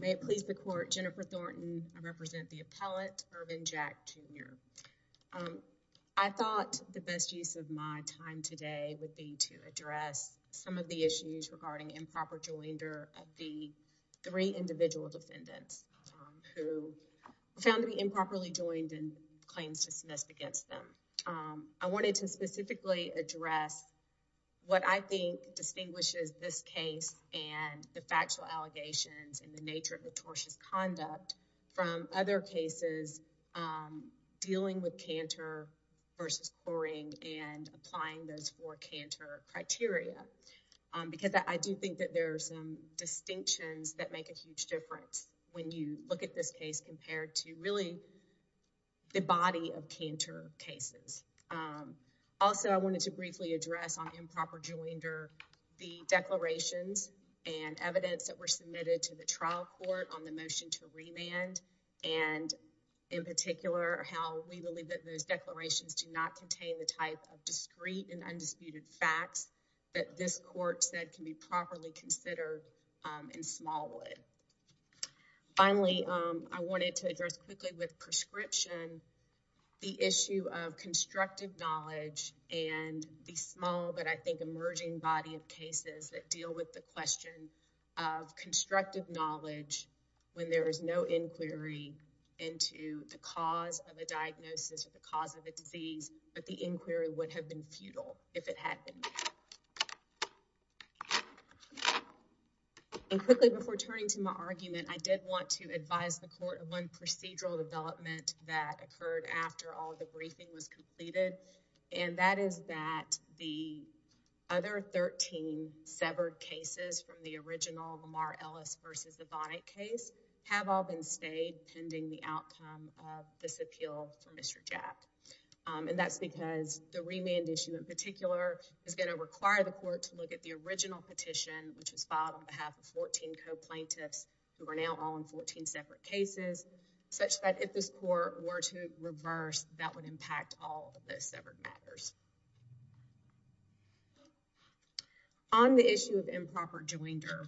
May it please the Court, Jennifer Thornton. I represent the appellate, Irvin Jack Jr. I thought the best use of my time today would be to address some of the issues regarding improper joinder of the three individual defendants who found to be improperly joined and claims dismissed against them. I wanted to specifically address what I think distinguishes this case and the factual allegations and nature of the tortious conduct from other cases dealing with canter versus quarrying and applying those four canter criteria because I do think that there are some distinctions that make a huge difference when you look at this case compared to really the body of canter cases. Also I wanted to briefly address on improper joinder the declarations and evidence that were submitted to the trial court on the motion to remand and in particular how we believe that those declarations do not contain the type of discreet and undisputed facts that this court said can be properly considered in Smallwood. Finally I wanted to address quickly with prescription the issue of constructive knowledge and the small but I think emerging body of cases that deal with the question of constructive knowledge when there is no inquiry into the cause of a diagnosis or the cause of a disease but the inquiry would have been futile if it had been. And quickly before turning to my argument I did want to advise the court of one procedural development that occurred after all the briefing was completed and that is that the other 13 severed cases from the original Lamar Ellis versus the Bonnet case have all been stayed pending the outcome of this appeal for Mr. Jack and that's because the remand issue in particular is going to require the court to look at the original petition which was filed on behalf of 14 co-plaintiffs who are now all in 14 separate cases such that if this court were to reverse that would impact all of those severed matters. On the issue of improper joinder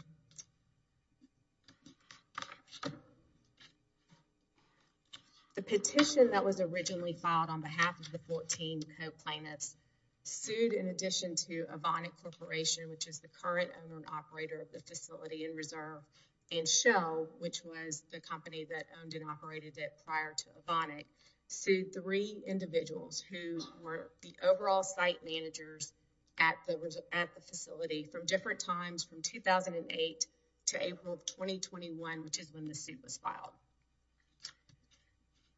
the petition that was originally filed on behalf of the 14 co-plaintiffs sued in addition to a Bonnet Corporation which is the current owner and operator of the facility in reserve and Shell which was the company that owned and operated it prior to Bonnet sued three individuals who were the overall site managers at the facility from different times from 2008 to April of 2021 which is when the suit was filed.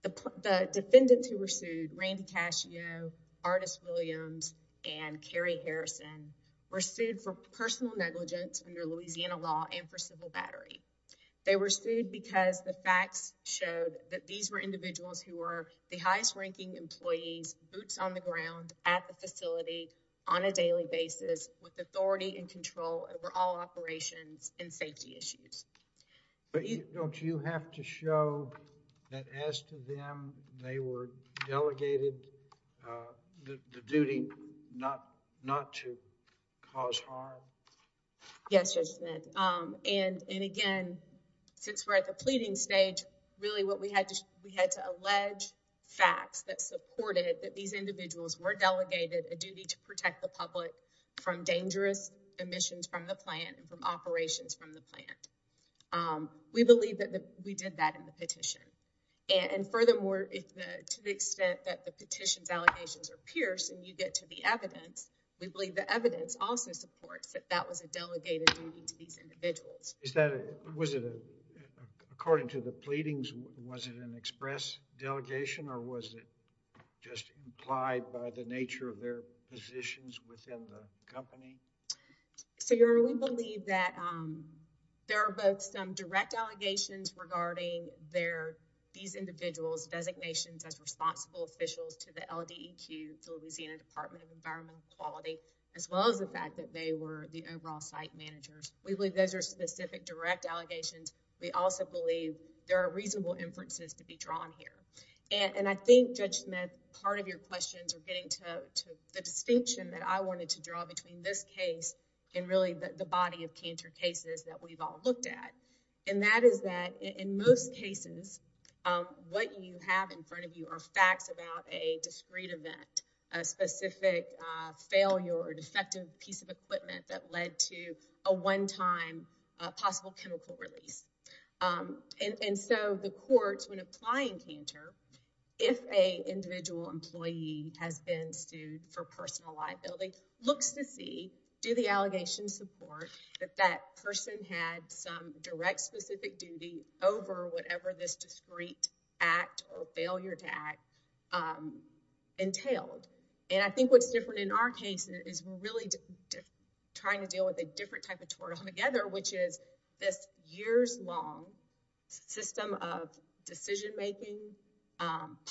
The defendants who were sued, Randy Cascio, Artis Williams and Kerry Harrison were sued for personal negligence under Louisiana law and for individuals who were the highest-ranking employees boots on the ground at the facility on a daily basis with authority and control over all operations and safety issues. But don't you have to show that as to them they were delegated the duty not not to cause harm? Yes, and again since we're at the alleged facts that supported that these individuals were delegated a duty to protect the public from dangerous emissions from the plant and from operations from the plant. We believe that we did that in the petition and furthermore if to the extent that the petitions allegations are pierced and you get to the evidence we believe the evidence also supports that that was a delegated duty to these individuals. Was it according to the delegation or was it just implied by the nature of their positions within the company? So your we believe that there are both some direct allegations regarding their these individuals designations as responsible officials to the LDEQ, Louisiana Department of Environmental Quality, as well as the fact that they were the overall site managers. We believe those are specific direct allegations. We also believe there are reasonable inferences to be drawn here. And I think Judge Smith part of your questions are getting to the distinction that I wanted to draw between this case and really the body of cancer cases that we've all looked at. And that is that in most cases what you have in front of you are facts about a discreet event, a specific failure or defective piece of equipment that led to a one-time possible chemical release. And so the courts when applying cancer, if a individual employee has been sued for personal liability, looks to see do the allegations support that that person had some direct specific duty over whatever this discreet act or failure to act entailed. And I think what's different in our case is we're really trying to deal with a different type of tort all together, which is this years-long system of decision-making,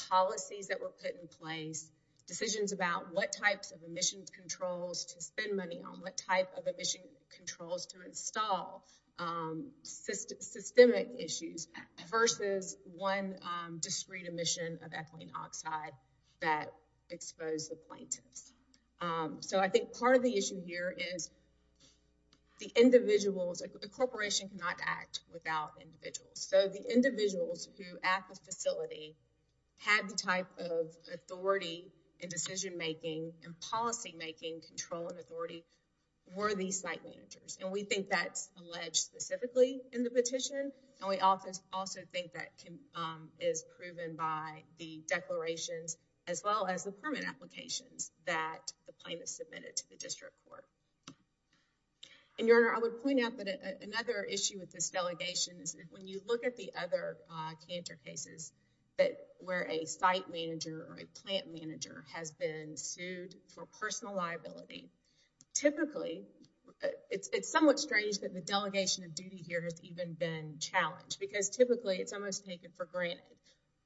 policies that were put in place, decisions about what types of emissions controls to spend money on, what type of emission controls to install, systemic issues versus one discreet emission of ethylene oxide that expose the plaintiffs. So I think part of the issue here is the individuals, the corporation cannot act without individuals. So the individuals who at the facility had the type of authority and decision-making and policy-making control and authority were these site managers. And we think that's alleged specifically in the petition and we often also think that can is proven by the declarations as well as the permit applications that the plaintiff submitted to the district court. And your honor, I would point out that another issue with this delegation is when you look at the other cancer cases that where a site manager or a plant manager has been sued for personal liability, typically it's somewhat strange that the delegation of duty here has even been challenged because typically it's almost taken for granted.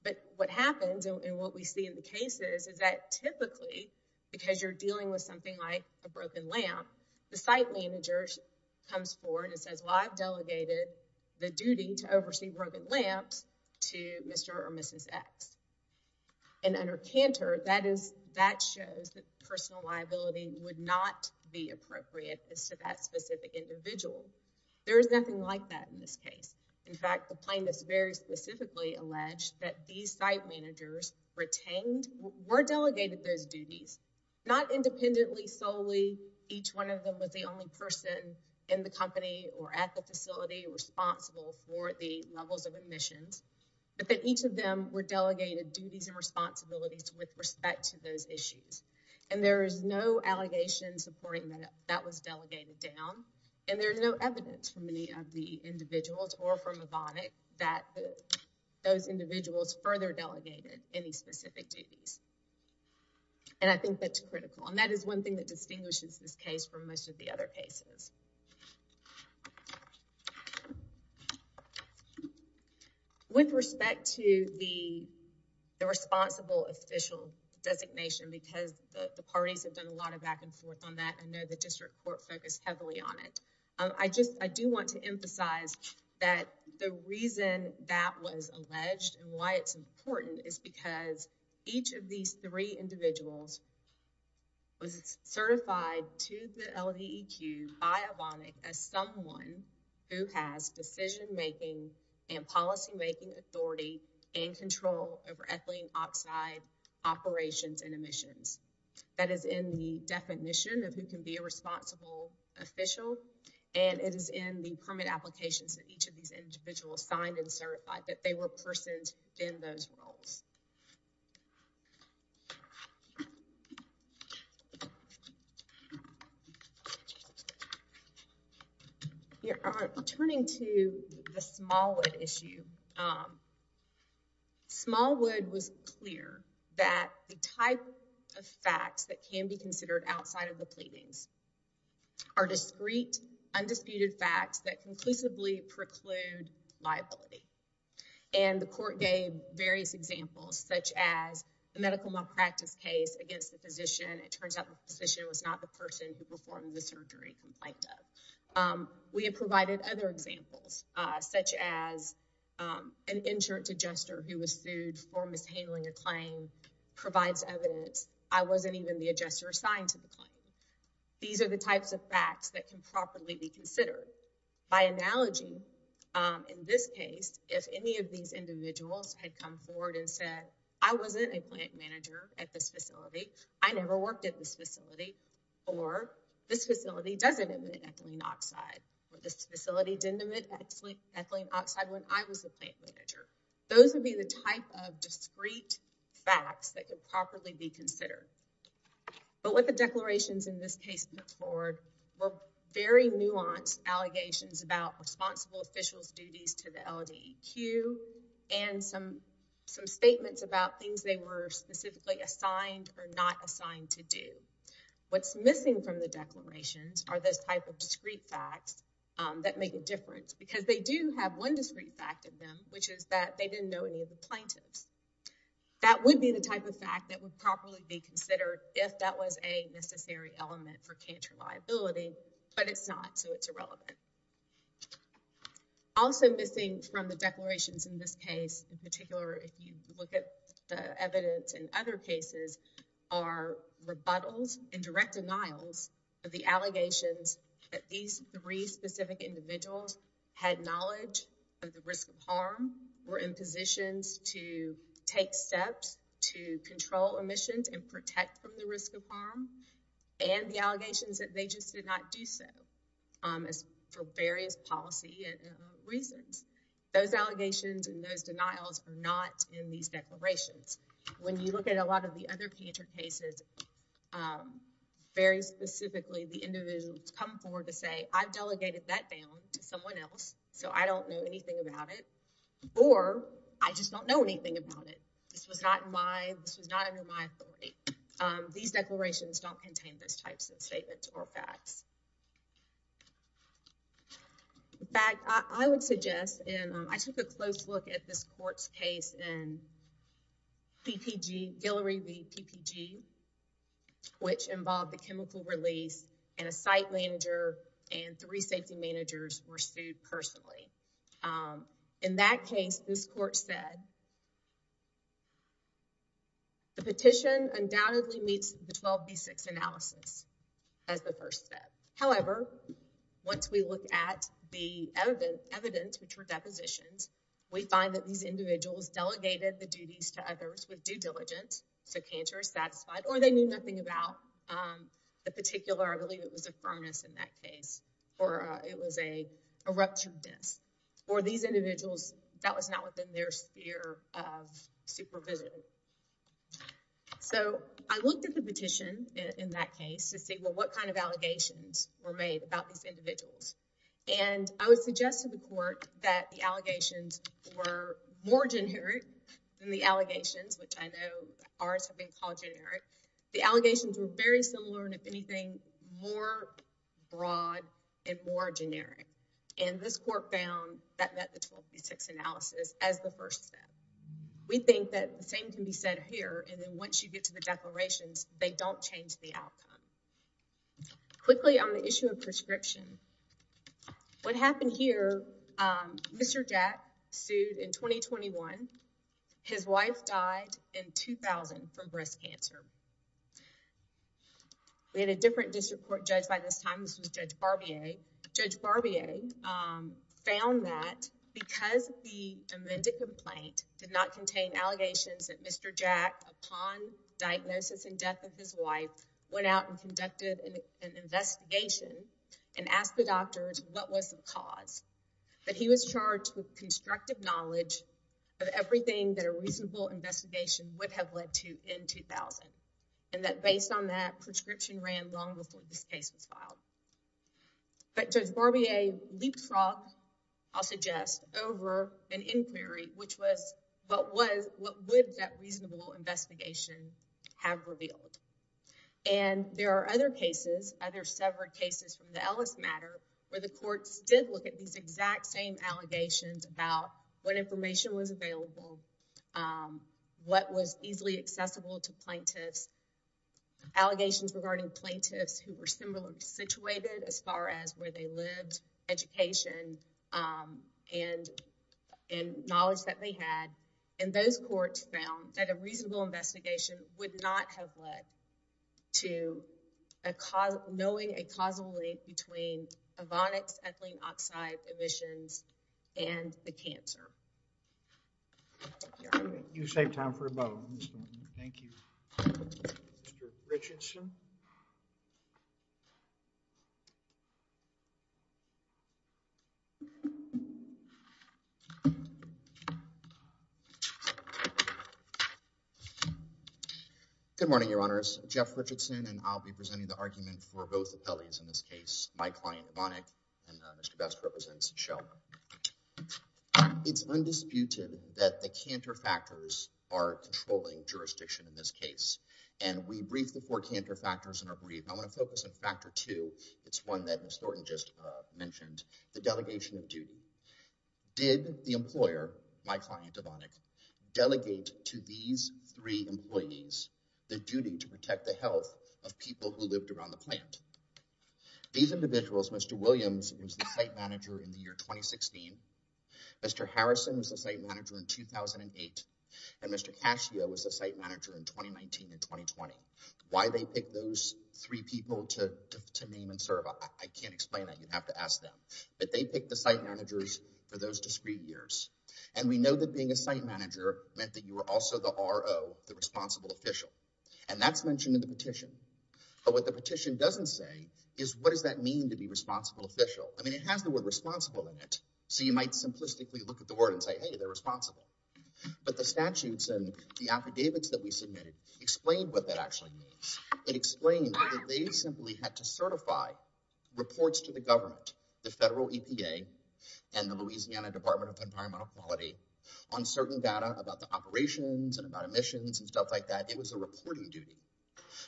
But what happens and what we see in the cases is that typically because you're dealing with something like a broken lamp, the site manager comes forward and says well I've delegated the duty to oversee broken lamps to Mr. or Mrs. X. And under Cantor that is, that shows that personal liability would not be appropriate as to that specific individual. There is nothing like that in this case. In fact, the plaintiff's very specifically alleged that these site managers retained, were delegated those duties, not independently solely each one of them was the only person in the company or at the facility responsible for the levels of admissions, but that each of them were delegated duties and responsibilities with respect to those And there's no evidence from any of the individuals or from Ebonic that those individuals further delegated any specific duties. And I think that's critical and that is one thing that distinguishes this case from most of the other cases. With respect to the responsible official designation because the parties have done a lot of back and forth on that, I know the I just I do want to emphasize that the reason that was alleged and why it's important is because each of these three individuals was certified to the LDEQ by Ebonic as someone who has decision-making and policymaking authority and control over ethylene oxide operations and emissions. That is in the definition of who can be a responsible official and it is in the permit applications that each of these individuals signed and certified that they were persons in those roles. Turning to the Smallwood issue, Smallwood was clear that the type of facts that can be considered outside of the pleadings are discrete undisputed facts that conclusively preclude liability. And the court gave various examples such as a medical malpractice case against the physician. It turns out the physician was not the person who performed the surgery complaint of. We have provided other examples such as an insurance adjuster who was sued for even the adjuster assigned to the claim. These are the types of facts that can properly be considered. By analogy, in this case, if any of these individuals had come forward and said I wasn't a plant manager at this facility, I never worked at this facility, or this facility doesn't emit ethylene oxide, or this facility didn't emit ethylene oxide when I was a plant manager. Those would be the type of discrete facts that could properly be considered. But what the declarations in this case put forward were very nuanced allegations about responsible officials duties to the LDEQ and some some statements about things they were specifically assigned or not assigned to do. What's missing from the declarations are those type of discrete facts that make a difference because they do have one discrete fact of them which is that they didn't know any of the plaintiffs. That would be the type of fact that would properly be considered if that was a necessary element for cancer liability, but it's not so it's irrelevant. Also missing from the declarations in this case, in particular if you look at the evidence in other cases, are rebuttals and direct denials of the allegations that these three specific individuals had knowledge of risk of harm, were in positions to take steps to control emissions and protect from the risk of harm, and the allegations that they just did not do so as for various policy reasons. Those allegations and those denials are not in these declarations. When you look at a lot of the other cancer cases, very specifically the individuals come forward to say I've delegated that down to someone else so I don't know anything about it or I just don't know anything about it. This was not my, this was not under my authority. These declarations don't contain those types of statements or facts. In fact, I would suggest and I took a close look at this court's case and PPG, Guillory v. PPG which involved the chemical release and a site manager and three safety managers were sued personally. In that case, this court said the petition undoubtedly meets the 12b6 analysis as the first step. However, once we look at the evidence, which were depositions, we find that these individuals delegated the duties to others with due diligence so cancer is satisfied or they knew nothing about the particular, I believe it was a furnace in that case, or it was a ruptured disk. For these individuals, that was not within their sphere of supervision. So, I looked at the petition in that case to see well what kind of allegations were made about these individuals and I would suggest to the court that the allegations were more generic than the allegations, which I know ours have been called generic. The allegations were very similar and if generic and this court found that met the 12b6 analysis as the first step. We think that the same can be said here and then once you get to the declarations, they don't change the outcome. Quickly on the issue of prescription. What happened here, Mr. Jack sued in 2021. His wife died in 2000 from breast cancer. We had a Judge Barbier found that because the amended complaint did not contain allegations that Mr. Jack, upon diagnosis and death of his wife, went out and conducted an investigation and asked the doctors what was the cause. That he was charged with constructive knowledge of everything that a reasonable investigation would have led to in 2000 and that based on that, prescription ran long before this case was filed. But Judge Barbier leapfrogged, I'll suggest, over an inquiry which was what was, what would that reasonable investigation have revealed and there are other cases, other severed cases from the Ellis matter where the courts did look at these exact same allegations about what information was available, what was easily accessible to plaintiffs, allegations regarding plaintiffs who were similarly situated as far as where they lived, education and knowledge that they had and those courts found that a reasonable investigation would not have led to a cause, knowing a causal link between Richardson. Good morning, Your Honors. Jeff Richardson and I'll be presenting the argument for both appellees in this case. My client, Monick, and Mr. Best represents Sheldon. It's undisputed that the canter factors are controlling jurisdiction in this case and we brief the four canter factors in our brief. I want to focus on factor two. It's one that Ms. Thornton just mentioned, the delegation of duty. Did the employer, my client, Devonick, delegate to these three employees the duty to protect the health of people who lived around the plant? These individuals, Mr. Williams was the site manager in the year 2016, Mr. Harrison was the site manager in 2008, and Mr. Cascio was the site manager in 2019 and 2020. Why they picked those three people to name and serve, I can't explain that. You'd have to ask them. But they picked the site managers for those discrete years and we know that being a site manager meant that you were also the RO, the responsible official, and that's mentioned in the petition. But what the petition doesn't say is what does that mean to be responsible official? I mean it has the word responsible in it, so you might simplistically look at the word and say hey they're responsible. But the statutes and the affidavits that we submitted explained what that actually means. It explained that they simply had to certify reports to the government, the federal EPA and the Louisiana Department of Environmental Quality, on certain data about the operations and about emissions and stuff like that. It was a reporting duty.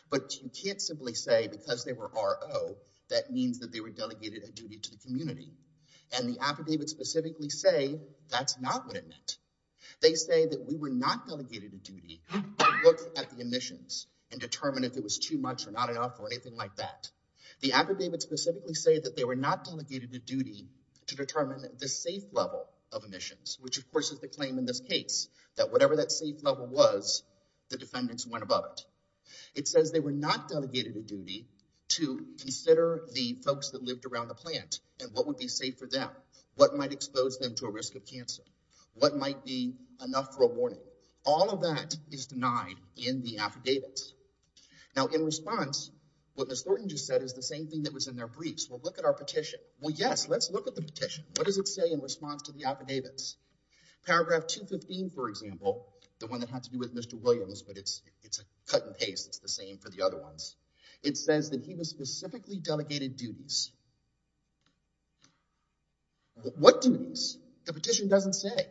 But you can't simply say because they were RO that means that they were delegated a duty to community. And the affidavits specifically say that's not what it meant. They say that we were not delegated a duty to look at the emissions and determine if it was too much or not enough or anything like that. The affidavits specifically say that they were not delegated a duty to determine the safe level of emissions, which of course is the claim in this case that whatever that safe level was, the defendants went above it. It says they were not delegated a duty to consider the folks that lived around the plant and what would be safe for them, what might expose them to a risk of cancer, what might be enough for a warning. All of that is denied in the affidavits. Now in response, what Ms. Thornton just said is the same thing that was in their briefs. Well look at our petition. Well yes, let's look at the petition. What does it say in response to the affidavits? Paragraph 215 for example, the one that has to do with Mr. Williams, but it's it's a cut and paste. It's the same for the other ones. It says that he was specifically delegated duties. What duties? The petition doesn't say.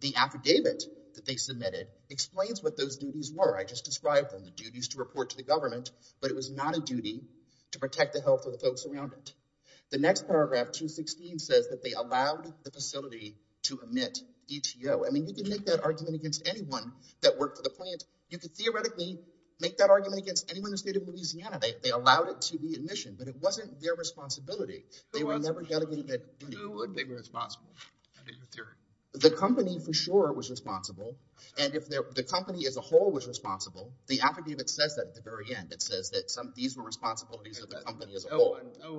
The affidavit that they submitted explains what those duties were. I just described them, the duties to report to the government, but it was not a duty to protect the health of the folks around it. The next paragraph 216 says that they allowed the facility to omit DTO. I mean you can make that argument against anyone that worked for the plant. You could theoretically make that argument against anyone who stayed in Louisiana. They allowed it to be admissioned, but it wasn't their responsibility. They were never delegated that duty. Who would be responsible? The company for sure was responsible, and if the company as a whole was responsible, the affidavit says that at the very end. It says that some of these were responsibilities of the company as a whole. No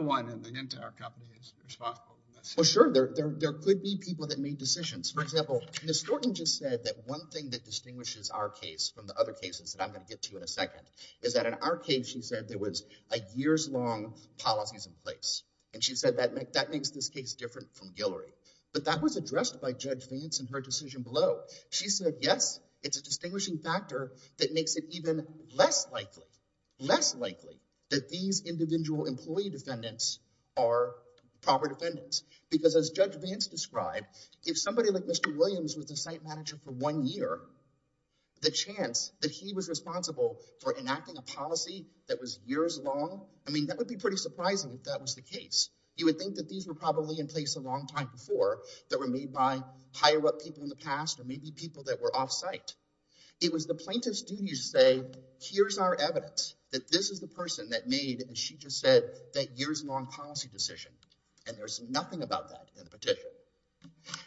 one in the entire company is responsible for this. Well sure, there could be people that made decisions. For example, Ms. Thornton just said that one thing that distinguishes our case from the other cases that I'm going to get to in a second, is that in our case she said there was a years-long policies in place, and she said that make that makes this case different from Guillory, but that was addressed by Judge Vance in her decision below. She said yes, it's a distinguishing factor that makes it even less likely, less likely, that these individual employee defendants are proper defendants, because as Judge Vance described, if somebody like Mr. Williams was the site manager for one year, the chance that he was responsible for enacting a policy that was years long, I mean that would be pretty surprising if that was the case. You would think that these were probably in place a long time before, that were made by higher-up people in the past, or maybe people that were off-site. It was the plaintiff's duty to say, here's our evidence that this is the person that made, as she just said, that years-long policy decision, and there's nothing about that in the petition.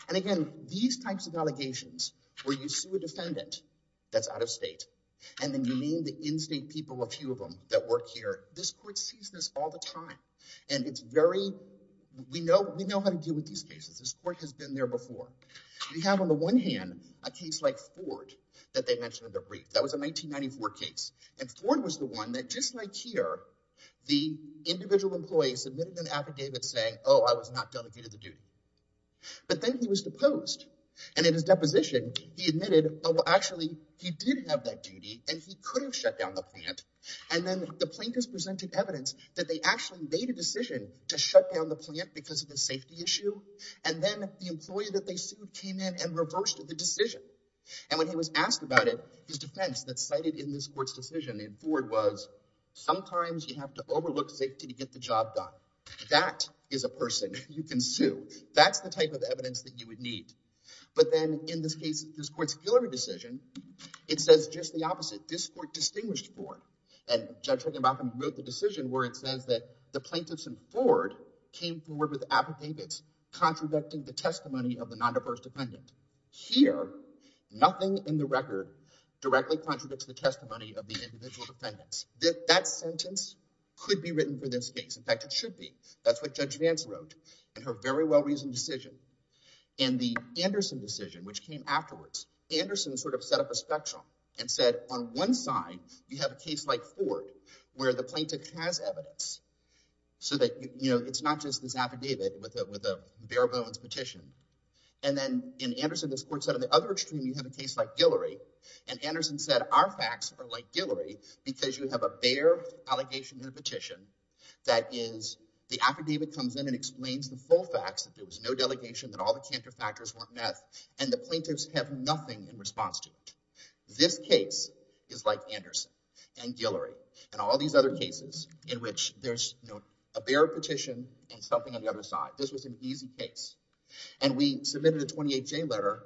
And again, these types of allegations, where you sue a defendant that's out of state, and then you name the in-state people, a few of them, that work here, this court sees this all the time, and it's very, we know, we know how to deal with these cases. This court has been there before. We have on the one hand, a case like Ford, that they mentioned in their brief. That was a 1994 case, and Ford was the one that, just like here, the individual employees submitted an affidavit saying, oh, I was not delegated the duty. But then he was deposed, and in his deposition, he admitted, oh, actually, he did have that duty, and he could have shut down the plant, and then the plaintiffs presented evidence that they actually made a decision to shut down the plant because of the safety issue, and then the employee that they sued came in and reversed the decision. And when he was asked about it, his defense that's cited in this court's decision in Ford was, sometimes you have to overlook safety to get the job done. That is a person you can sue. That's the type of evidence that you would need. But then, in this case, this court's Hillary decision, it says just the opposite. This court distinguished Ford, and Judge Hickenbacker wrote the decision where it says that the plaintiffs in Ford came forward with affidavits contradicting the testimony of the non-diverse defendant. Here, nothing in the record directly contradicts the testimony of the defendant in this case. In fact, it should be. That's what Judge Vance wrote in her very well-reasoned decision. In the Anderson decision, which came afterwards, Anderson sort of set up a spectrum and said, on one side, you have a case like Ford, where the plaintiff has evidence, so that, you know, it's not just this affidavit with a bare-bones petition. And then, in Anderson, this court said, on the other extreme, you have a case like Guillory, and Anderson said, our facts are like a bare-bones petition, that is, the affidavit comes in and explains the full facts, that there was no delegation, that all the counterfactuals weren't met, and the plaintiffs have nothing in response to it. This case is like Anderson and Guillory and all these other cases in which there's a bare petition and something on the other side. This was an easy case. And we submitted a 28-J letter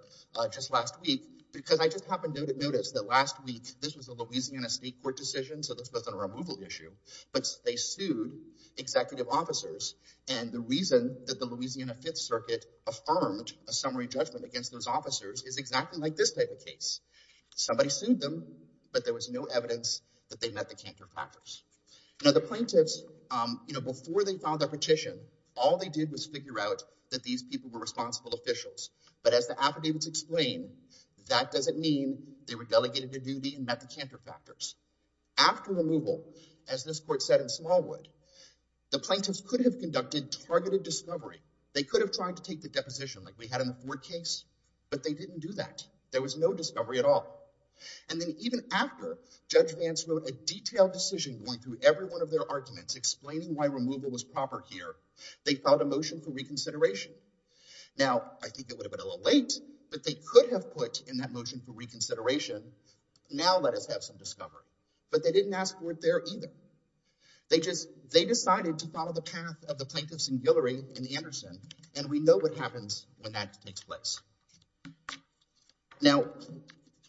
just last week, because I just happened to notice that last week, this was a Louisiana State Court decision, so this wasn't a removal issue, but they sued executive officers, and the reason that the Louisiana Fifth Circuit affirmed a summary judgment against those officers is exactly like this type of case. Somebody sued them, but there was no evidence that they met the counterfactuals. Now, the plaintiffs, you know, before they filed their petition, all they did was figure out that these people were responsible officials, but as the affidavits explain, that doesn't mean they were delegated their duty and met the counterfactuals. After removal, as this court said in Smallwood, the plaintiffs could have conducted targeted discovery. They could have tried to take the deposition like we had in the Ford case, but they didn't do that. There was no discovery at all. And then even after Judge Vance wrote a detailed decision going through every one of their arguments explaining why removal was proper here, they filed a motion for reconsideration. Now, I think it would have been a little late, but they could have put in that motion for reconsideration, now let us have some discovery. But they didn't ask for it there either. They just, they decided to follow the path of the plaintiffs and Guillory and Anderson, and we know what happens when that takes place. Now,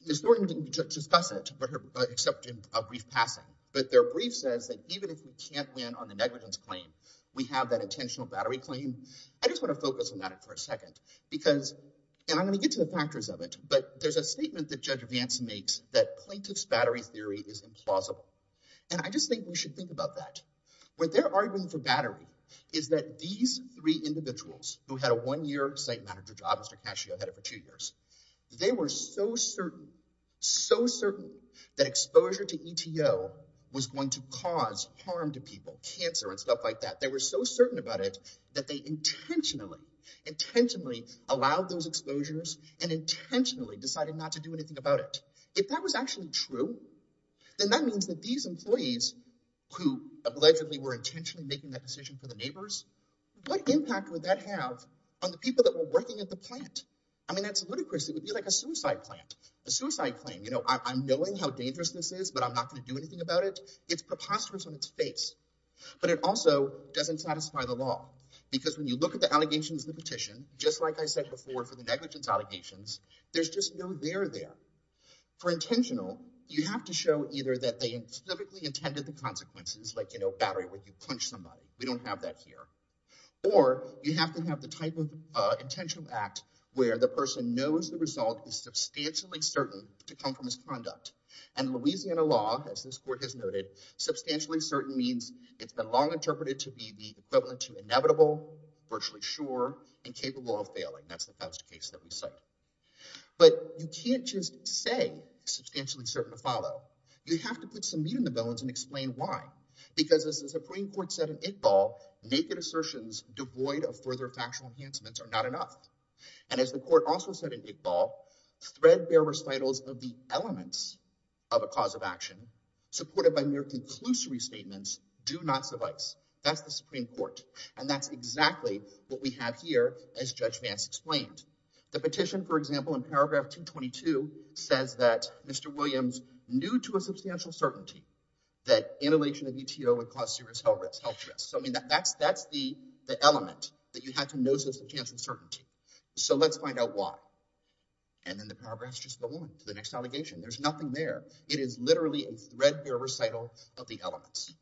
Ms. Thornton didn't discuss it, except in a brief passing, but their brief says that even if we can't win on the negligence claim, we have that intentional battery claim. I just want to focus on that for a second, because, and I'm going to get to the factors of it, but there's a statement that Judge Vance makes that plaintiff's battery theory is implausible. And I just think we should think about that. What they're arguing for battery is that these three individuals, who had a one-year site manager job, Mr. Cascio had it for two years, they were so certain, so certain that exposure to ETO was going to cause harm to people, cancer and stuff like that. They were so certain about it that they intentionally, intentionally allowed those exposures and intentionally decided not to do anything about it. If that was actually true, then that means that these employees, who allegedly were intentionally making that decision for the neighbors, what impact would that have on the people that were working at the plant? I mean, that's ludicrous. It would be like a suicide plant, a suicide claim. You know, I'm knowing how dangerous this is, but I'm not going to do anything about it. It's preposterous on its face, but it also doesn't satisfy the law, because when you look at the allegations in the petition, just like I said before for the negligence allegations, there's just no there there. For intentional, you have to show either that they specifically intended the consequences, like, you know, battery where you punch somebody. We don't have that here. Or you have to have the type of intentional act where the person knows the result is substantially certain to come from misconduct. And Louisiana law, as this court has noted, substantially certain means it's been interpreted to be the equivalent to inevitable, virtually sure, and capable of failing. That's the best case that we cite. But you can't just say substantially certain to follow. You have to put some meat in the bones and explain why. Because as the Supreme Court said in Iqbal, naked assertions devoid of further factual enhancements are not enough. And as the court also said in Iqbal, threadbare recitals of the elements of a cause of action, supported by mere conclusory statements, do not suffice. That's the Supreme Court. And that's exactly what we have here, as Judge Vance explained. The petition, for example, in paragraph 222 says that Mr. Williams knew to a substantial certainty that annihilation of ETO would cause serious health risks. So I mean that that's that's the the element that you have to notice the chance of certainty. So let's find out why. And then the paragraphs just go on to the next allegation. There's nothing there. It is literally a threadbare recital of the elements.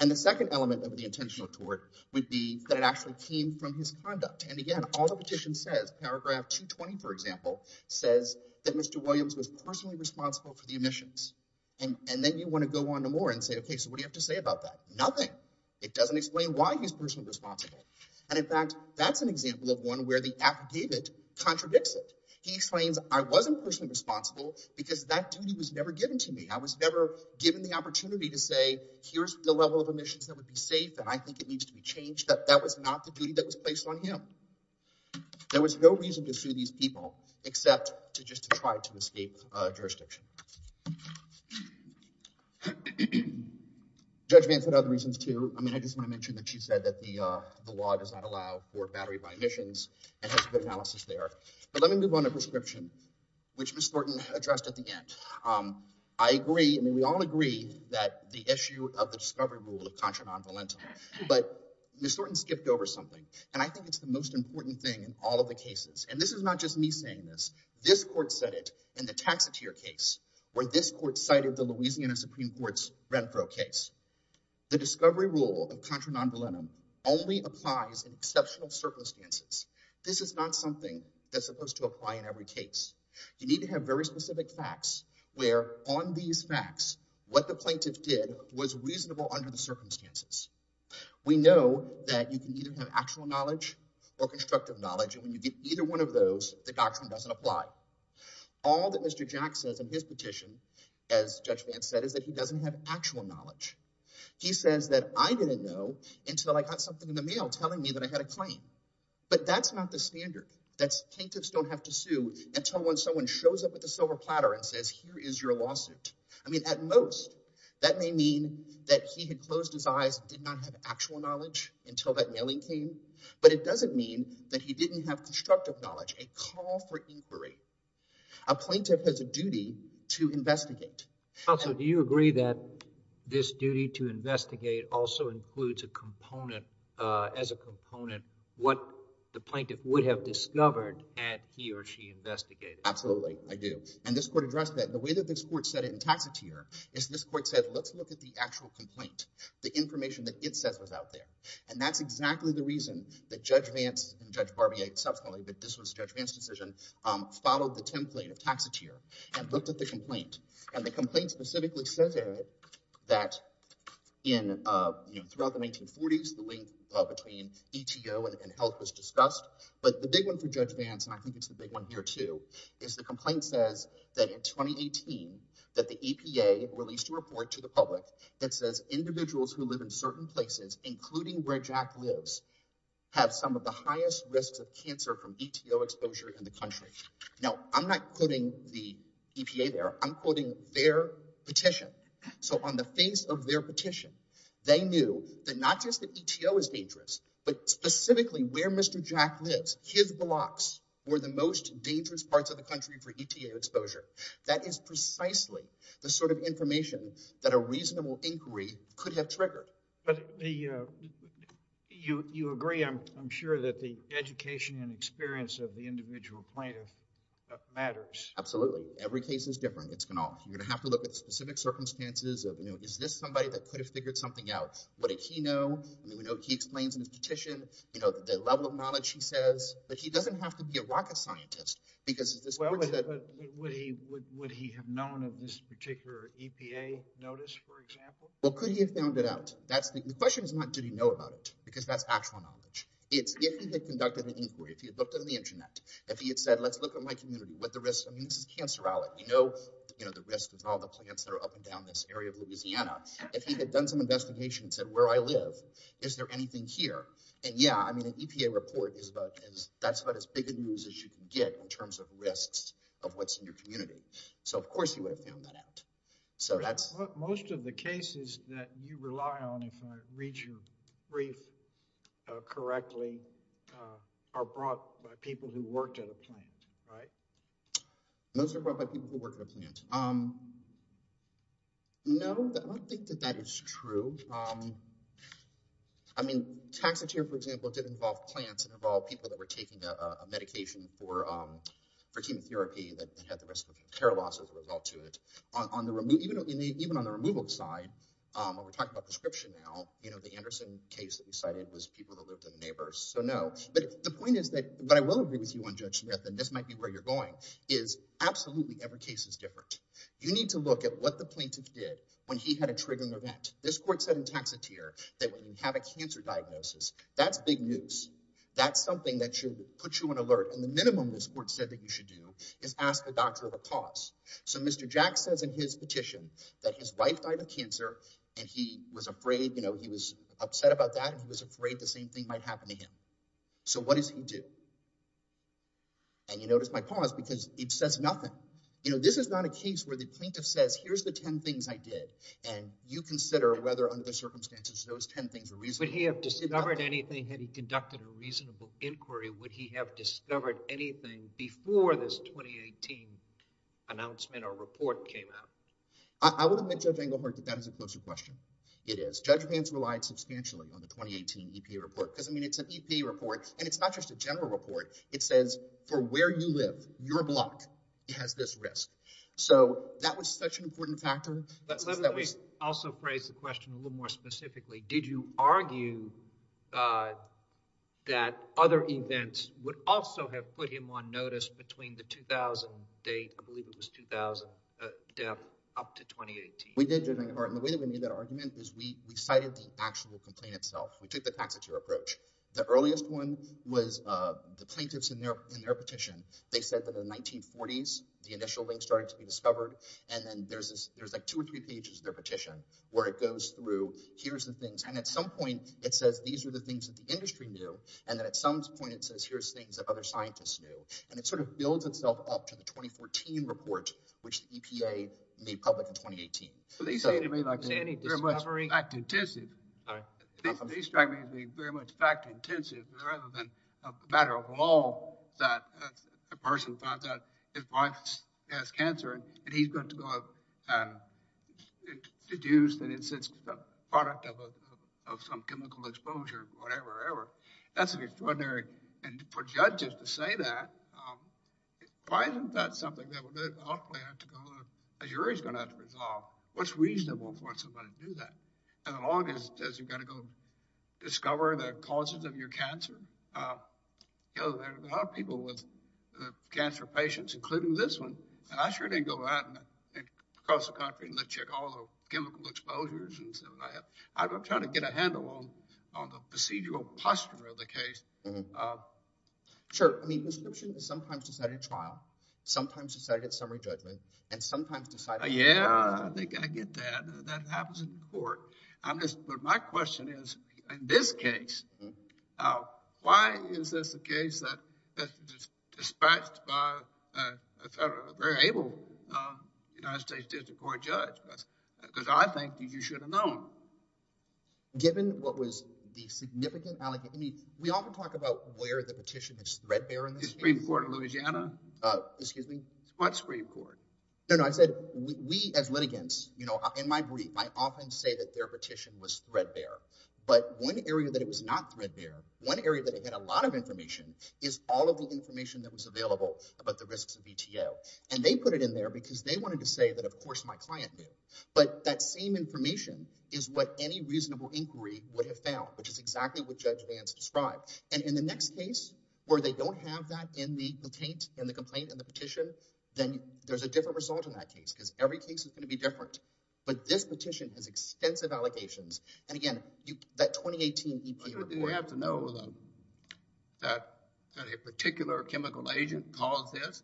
And the second element of the intentional tort would be that it actually came from his conduct. And again, all the petition says, paragraph 220, for example, says that Mr. Williams was personally responsible for the omissions. And then you want to go on to more and say, okay, so what do you have to say about that? Nothing. It doesn't explain why he's personally responsible. And in fact, that's an example of one where the affidavit contradicts it. He explains, I wasn't personally responsible because that duty was never given to me. I was never given the opportunity to say, here's the level of omissions that would be safe, and I think it needs to be changed. That was not the duty that was placed on him. There was no reason to sue these people except to just try to escape jurisdiction. Judge Vance had other reasons, too. I mean, I just want to mention that she said that the law does not allow for battery-by-omissions and has good analysis there. But let me move on to prescription, which Ms. Thornton addressed at the end. I agree, I mean, we all agree that the issue of the discovery rule of contra non-volentum, but Ms. Thornton skipped over something, and I think it's the most important thing in all of the cases. And this is not just me saying this. This court said it in the Taxotere case, where this court cited the Louisiana Supreme Court's Renfro case. The discovery rule of contra non-volentum only applies in exceptional circumstances. This is not something that's supposed to apply in every case. You need to have very specific facts where, on these facts, what the plaintiff did was reasonable under the circumstances. We know that you can either have actual knowledge or constructive knowledge, and when you get either one of those, the doctrine doesn't apply. All that Mr. Jack says in his petition, as Judge Vance said, is that he doesn't have actual knowledge. He says that I didn't know until I got something in the mail telling me that I had a claim. But that's not the standard. Plaintiffs don't have to sue until when someone shows up with a silver platter and says, here is your lawsuit. I mean, at most, that may mean that he had closed his eyes, did not have actual knowledge until that mailing came, but it doesn't mean that he didn't have constructive knowledge, a call for inquiry. A plaintiff has a duty to investigate. Counsel, do you agree that this duty to investigate also includes a component what the plaintiff would have discovered had he or she investigated? Absolutely, I do. And this Court addressed that. The way that this Court said it in Taxotere is this Court said, let's look at the actual complaint, the information that it says was out there. And that's exactly the reason that Judge Vance and Judge Barbier subsequently, but this was Judge Vance's decision, followed the template of Taxotere and looked at the complaint. And the complaint specifically says that throughout the 1940s, the link between ETO and health was discussed. But the big one for Judge Vance, and I think it's a big one here too, is the complaint says that in 2018 that the EPA released a report to the public that says individuals who live in certain places, including where Jack lives, have some of the highest risks of cancer from ETO exposure in the country. Now, I'm not quoting the EPA there, I'm quoting their petition. So on the face of their petition, they knew that not just that ETO is dangerous, but specifically where Mr. Jack lives, his blocks were the most dangerous parts of the country for ETO exposure. That is precisely the sort of information that a reasonable inquiry could have triggered. But you agree, I'm sure, that the education and experience of the matters. Absolutely. Every case is different. It's going to, you're going to have to look at specific circumstances of, you know, is this somebody that could have figured something out? What did he know? I mean, we know he explains in his petition, you know, the level of knowledge he says, but he doesn't have to be a rocket scientist. Because would he have known of this particular EPA notice, for example? Well, could he have found it out? That's the question is not, did he know about it? Because that's actual knowledge. It's if he had conducted an inquiry, if he had looked at my community, what the risks, I mean, this is cancer out, you know, you know, the risk of all the plants that are up and down this area of Louisiana. If he had done some investigations at where I live, is there anything here? And yeah, I mean, an EPA report is about as, that's about as big a news as you can get in terms of risks of what's in your community. So of course, he would have found that out. So that's most of the cases that you rely on, if I read your brief correctly, are brought by people who worked at a plant, right? Most are brought by people who work in a plant. No, I don't think that that is true. I mean, taxidermy, for example, did involve plants and involve people that were taking a medication for, for chemotherapy that had the risk of care loss as a result to it. On the, even on the removal side, when we're talking about prescription now, you know, the Anderson case that we cited was people who lived in the neighbors. So no, but the point is that, but I will agree with you on Judge Smith, and this might be where you're going, is absolutely every case is different. You need to look at what the plaintiff did when he had a triggering event. This court said in Taxotere that when you have a cancer diagnosis, that's big news. That's something that should put you on alert. And the minimum this court said that you should do is ask the doctor to pause. So Mr. Jack says in his petition that his wife died of cancer and he was afraid, you know, he was upset about that. He was afraid the same thing might happen to him. So what does he do? And you notice my pause because it says nothing. You know, this is not a case where the plaintiff says, here's the 10 things I did. And you consider whether under the circumstances, those 10 things are reasonable. Would he have discovered anything had he conducted a reasonable inquiry? Would he have discovered anything before this 2018 announcement or report came out? I would admit, Judge Englehart, that that is a closer question. It is. Judge Vance relied substantially on the 2018 EPA report because, I mean, it's an EPA report and it's not just a general report. It says for where you live, your block, it has this risk. So that was such an important factor. But let me also phrase the question a little more specifically. Did you argue that other events would also have put him on notice between the 2000 date, I believe it was 2000, death up to 2018? We did, Judge Englehart. And the way that we made that argument is we cited the actual complaint itself. We took the taxitier approach. The earliest one was the plaintiffs in their petition. They said that in the 1940s, the initial link started to be discovered. And then there's like two or three pages of their petition where it goes through, here's the things. And at some point, it says, these are the things that the industry knew. And then at some point, it says, here's things that other scientists knew. And it sort of builds itself up to the 2014 report, which the EPA made public in 2018. So they say to me, like, is there any discovery? Fact-intensive. They strike me as being very much fact-intensive rather than a matter of law that a person finds out his wife has cancer and he's going to go and deduce that it's a product of some chemical exposure or whatever. That's extraordinary. And for judges to say that, why isn't that something that we're going to ultimately have to go to a jury's going to have to resolve? What's reasonable for somebody to do that? And as long as you've got to go discover the causes of your cancer. You know, there's a lot of people with cancer patients, including this one. And I sure didn't go out and cross the country and let you check all the chemical exposures. I was trying to get a handle on the procedural posture of the case. Sure. I mean, prescription is sometimes decided at trial, sometimes decided at summary judgment, and sometimes decided... Yeah, I think I get that. That happens in court. But my question is, in this case, why is this a case that is dispatched by a very able United States District Court judge? Because I think you should have known. Given what was the significant... I mean, we often talk about where the petition is threadbare in this case. The Supreme Court of Louisiana? Excuse me? What Supreme Court? No, no, I said, we as litigants, you know, in my brief, I often say that their petition was threadbare. But one area that it was not threadbare, one area that it had a lot of information, is all of the information that was available about the risks of VTO. And they put it in there because they wanted to say that, of course, my client knew. But that same information is what any reasonable inquiry would have found, which is exactly what Judge Vance described. And in the next case, where they don't have that in the complaint, in the complaint, in the petition, then there's a different result in that case, because every case is going to be different. But this petition has extensive allocations. And again, that 2018 EPA report... Do you have to know that a particular chemical agent caused this?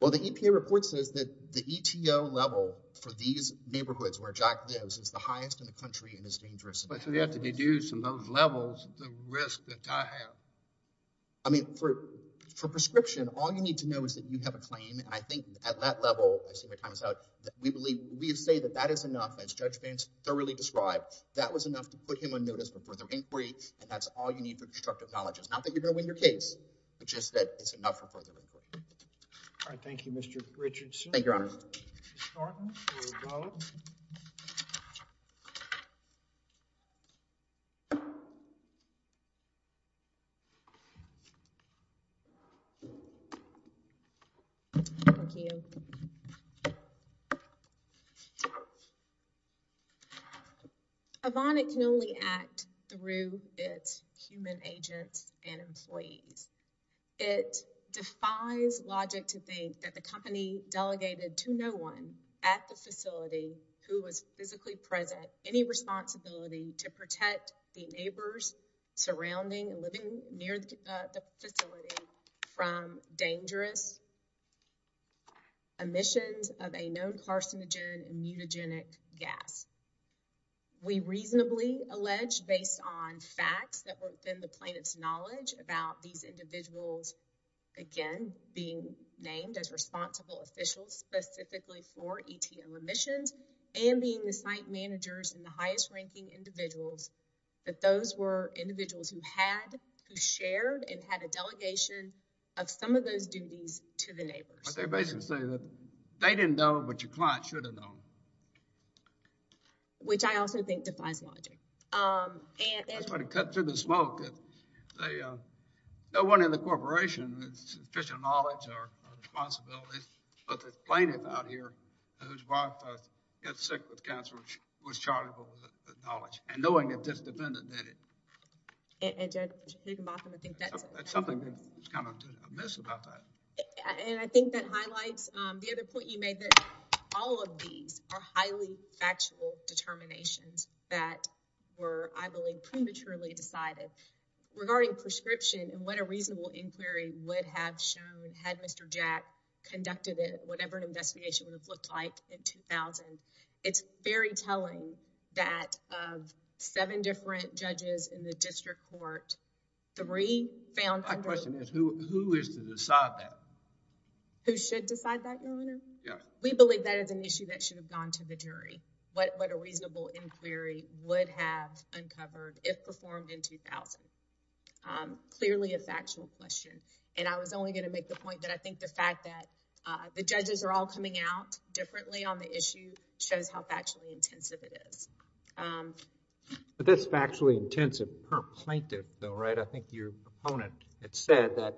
Well, the EPA report says that the ETO level for these neighborhoods where Jack lives is the highest in the country and is dangerous. But you have to deduce from those levels the risk that I have. I mean, for prescription, all you need to know is that you have a claim. And I think at that level, I see my time is out, we believe, we say that that is enough, as Judge Vance thoroughly described, that was enough to put him on notice for further inquiry. And that's all you need for constructive knowledge. It's not that you're going to win your case, but just that it's enough for further inquiry. All right. Thank you, Mr. Richardson. Thank you, Your Honor. A bonnet can only act through its human agents and employees. It defies logic to think that the company delegated to no one at the facility who was physically present any responsibility to protect the neighbors surrounding and living near the facility from dangerous emissions of a known carcinogen mutagenic gas. We reasonably allege, based on facts that are being named as responsible officials, specifically for ETO emissions and being the site managers and the highest ranking individuals, that those were individuals who had, who shared and had a delegation of some of those duties to the neighbors. But they basically say that they didn't know, but your client should have known. Which I also think defies logic. That's why they cut through the smoke. No one in the corporation with sufficient knowledge or responsibility, but this plaintiff out here, whose wife got sick with cancer, was charged with the knowledge and knowing that this defendant did it. And Judge Higginbotham, I think that's something that was kind of amiss about that. And I think that highlights the other point you made that all of these are Regarding prescription and what a reasonable inquiry would have shown had Mr. Jack conducted it, whatever an investigation would have looked like in 2000, it's very telling that of seven different judges in the district court, three found... My question is, who is to decide that? Who should decide that, Your Honor? Yeah. We believe that is an issue that should have gone to the jury. What a Clearly a factual question. And I was only going to make the point that I think the fact that the judges are all coming out differently on the issue shows how factually intensive it is. But that's factually intensive per plaintiff though, right? I think your opponent had said that,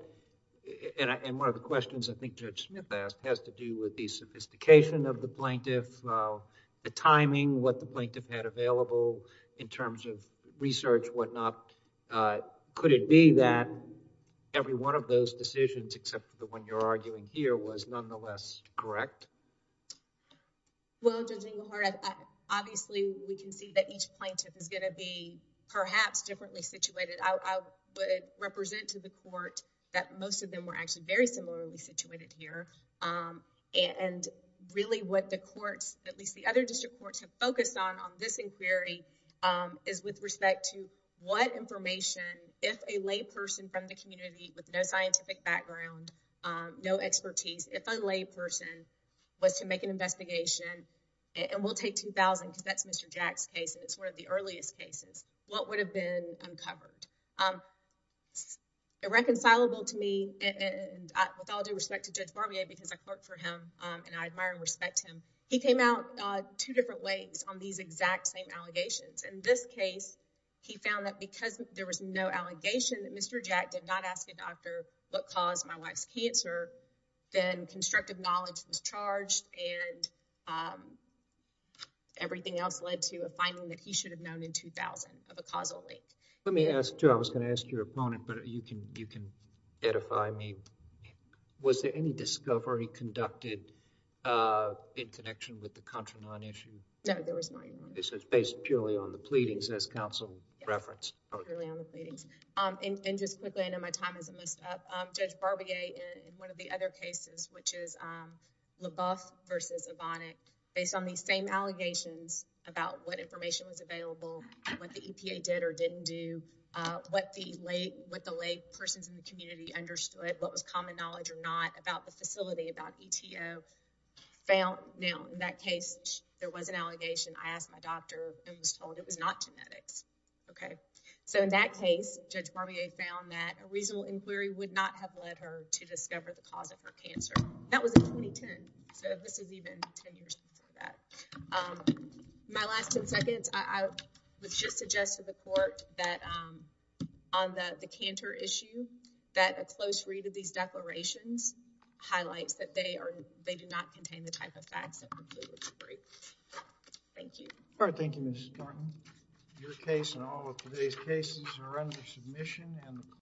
and one of the questions I think Judge Smith asked has to do with the sophistication of the plaintiff, the timing, what the plaintiff had available in terms of research, whatnot. Could it be that every one of those decisions, except for the one you're arguing here, was nonetheless correct? Well, Judge Inglehart, obviously we can see that each plaintiff is going to be perhaps differently situated. I would represent to the court that most of them were actually very similarly situated here. And really what the courts, at least the other district courts, have focused on on this inquiry is with respect to what information, if a layperson from the community with no scientific background, no expertise, if a layperson was to make an investigation, and we'll take 2000 because that's Mr. Jack's case, it's one of the earliest cases, what would have been uncovered? Irreconcilable to me, and with all due respect to Judge Barbier, because I clerked for him, and I admire and respect him, he came out two different ways on these exact same allegations. In this case, he found that because there was no allegation that Mr. Jack did not ask a doctor what caused my wife's cancer, then constructive knowledge was charged, and everything else led to a finding that he should have known in 2000 of a causal link. Let me ask, too, I was going to ask your opponent, but you can edify me. Was there any discovery conducted in connection with the Contra Non issue? No, there was not. This is based purely on the pleadings as counsel referenced. Purely on the pleadings. And just quickly, I know my time isn't messed up, Judge Barbier, in one of the other cases, which is LaBeouf versus Evonik, based on these same allegations about what information was available, what the EPA did or didn't do, what the lay persons in the community understood, what was common knowledge or not about the facility, about ETO, found, now, in that case, there was an allegation. I asked my doctor and was told it was not genetics. Okay. So in that case, Judge Barbier found that a reasonable inquiry would not have led her to discover the cause of her cancer. That was in 2010, so this is even 10 years before that. Um, my last 10 seconds, I would just suggest to the court that, um, on the, the Cantor issue, that a close read of these declarations highlights that they are, they do not contain the type of facts that would lead to a break. Thank you. All right. Thank you, Mrs. Martin. Your case and all of today's cases are under submission and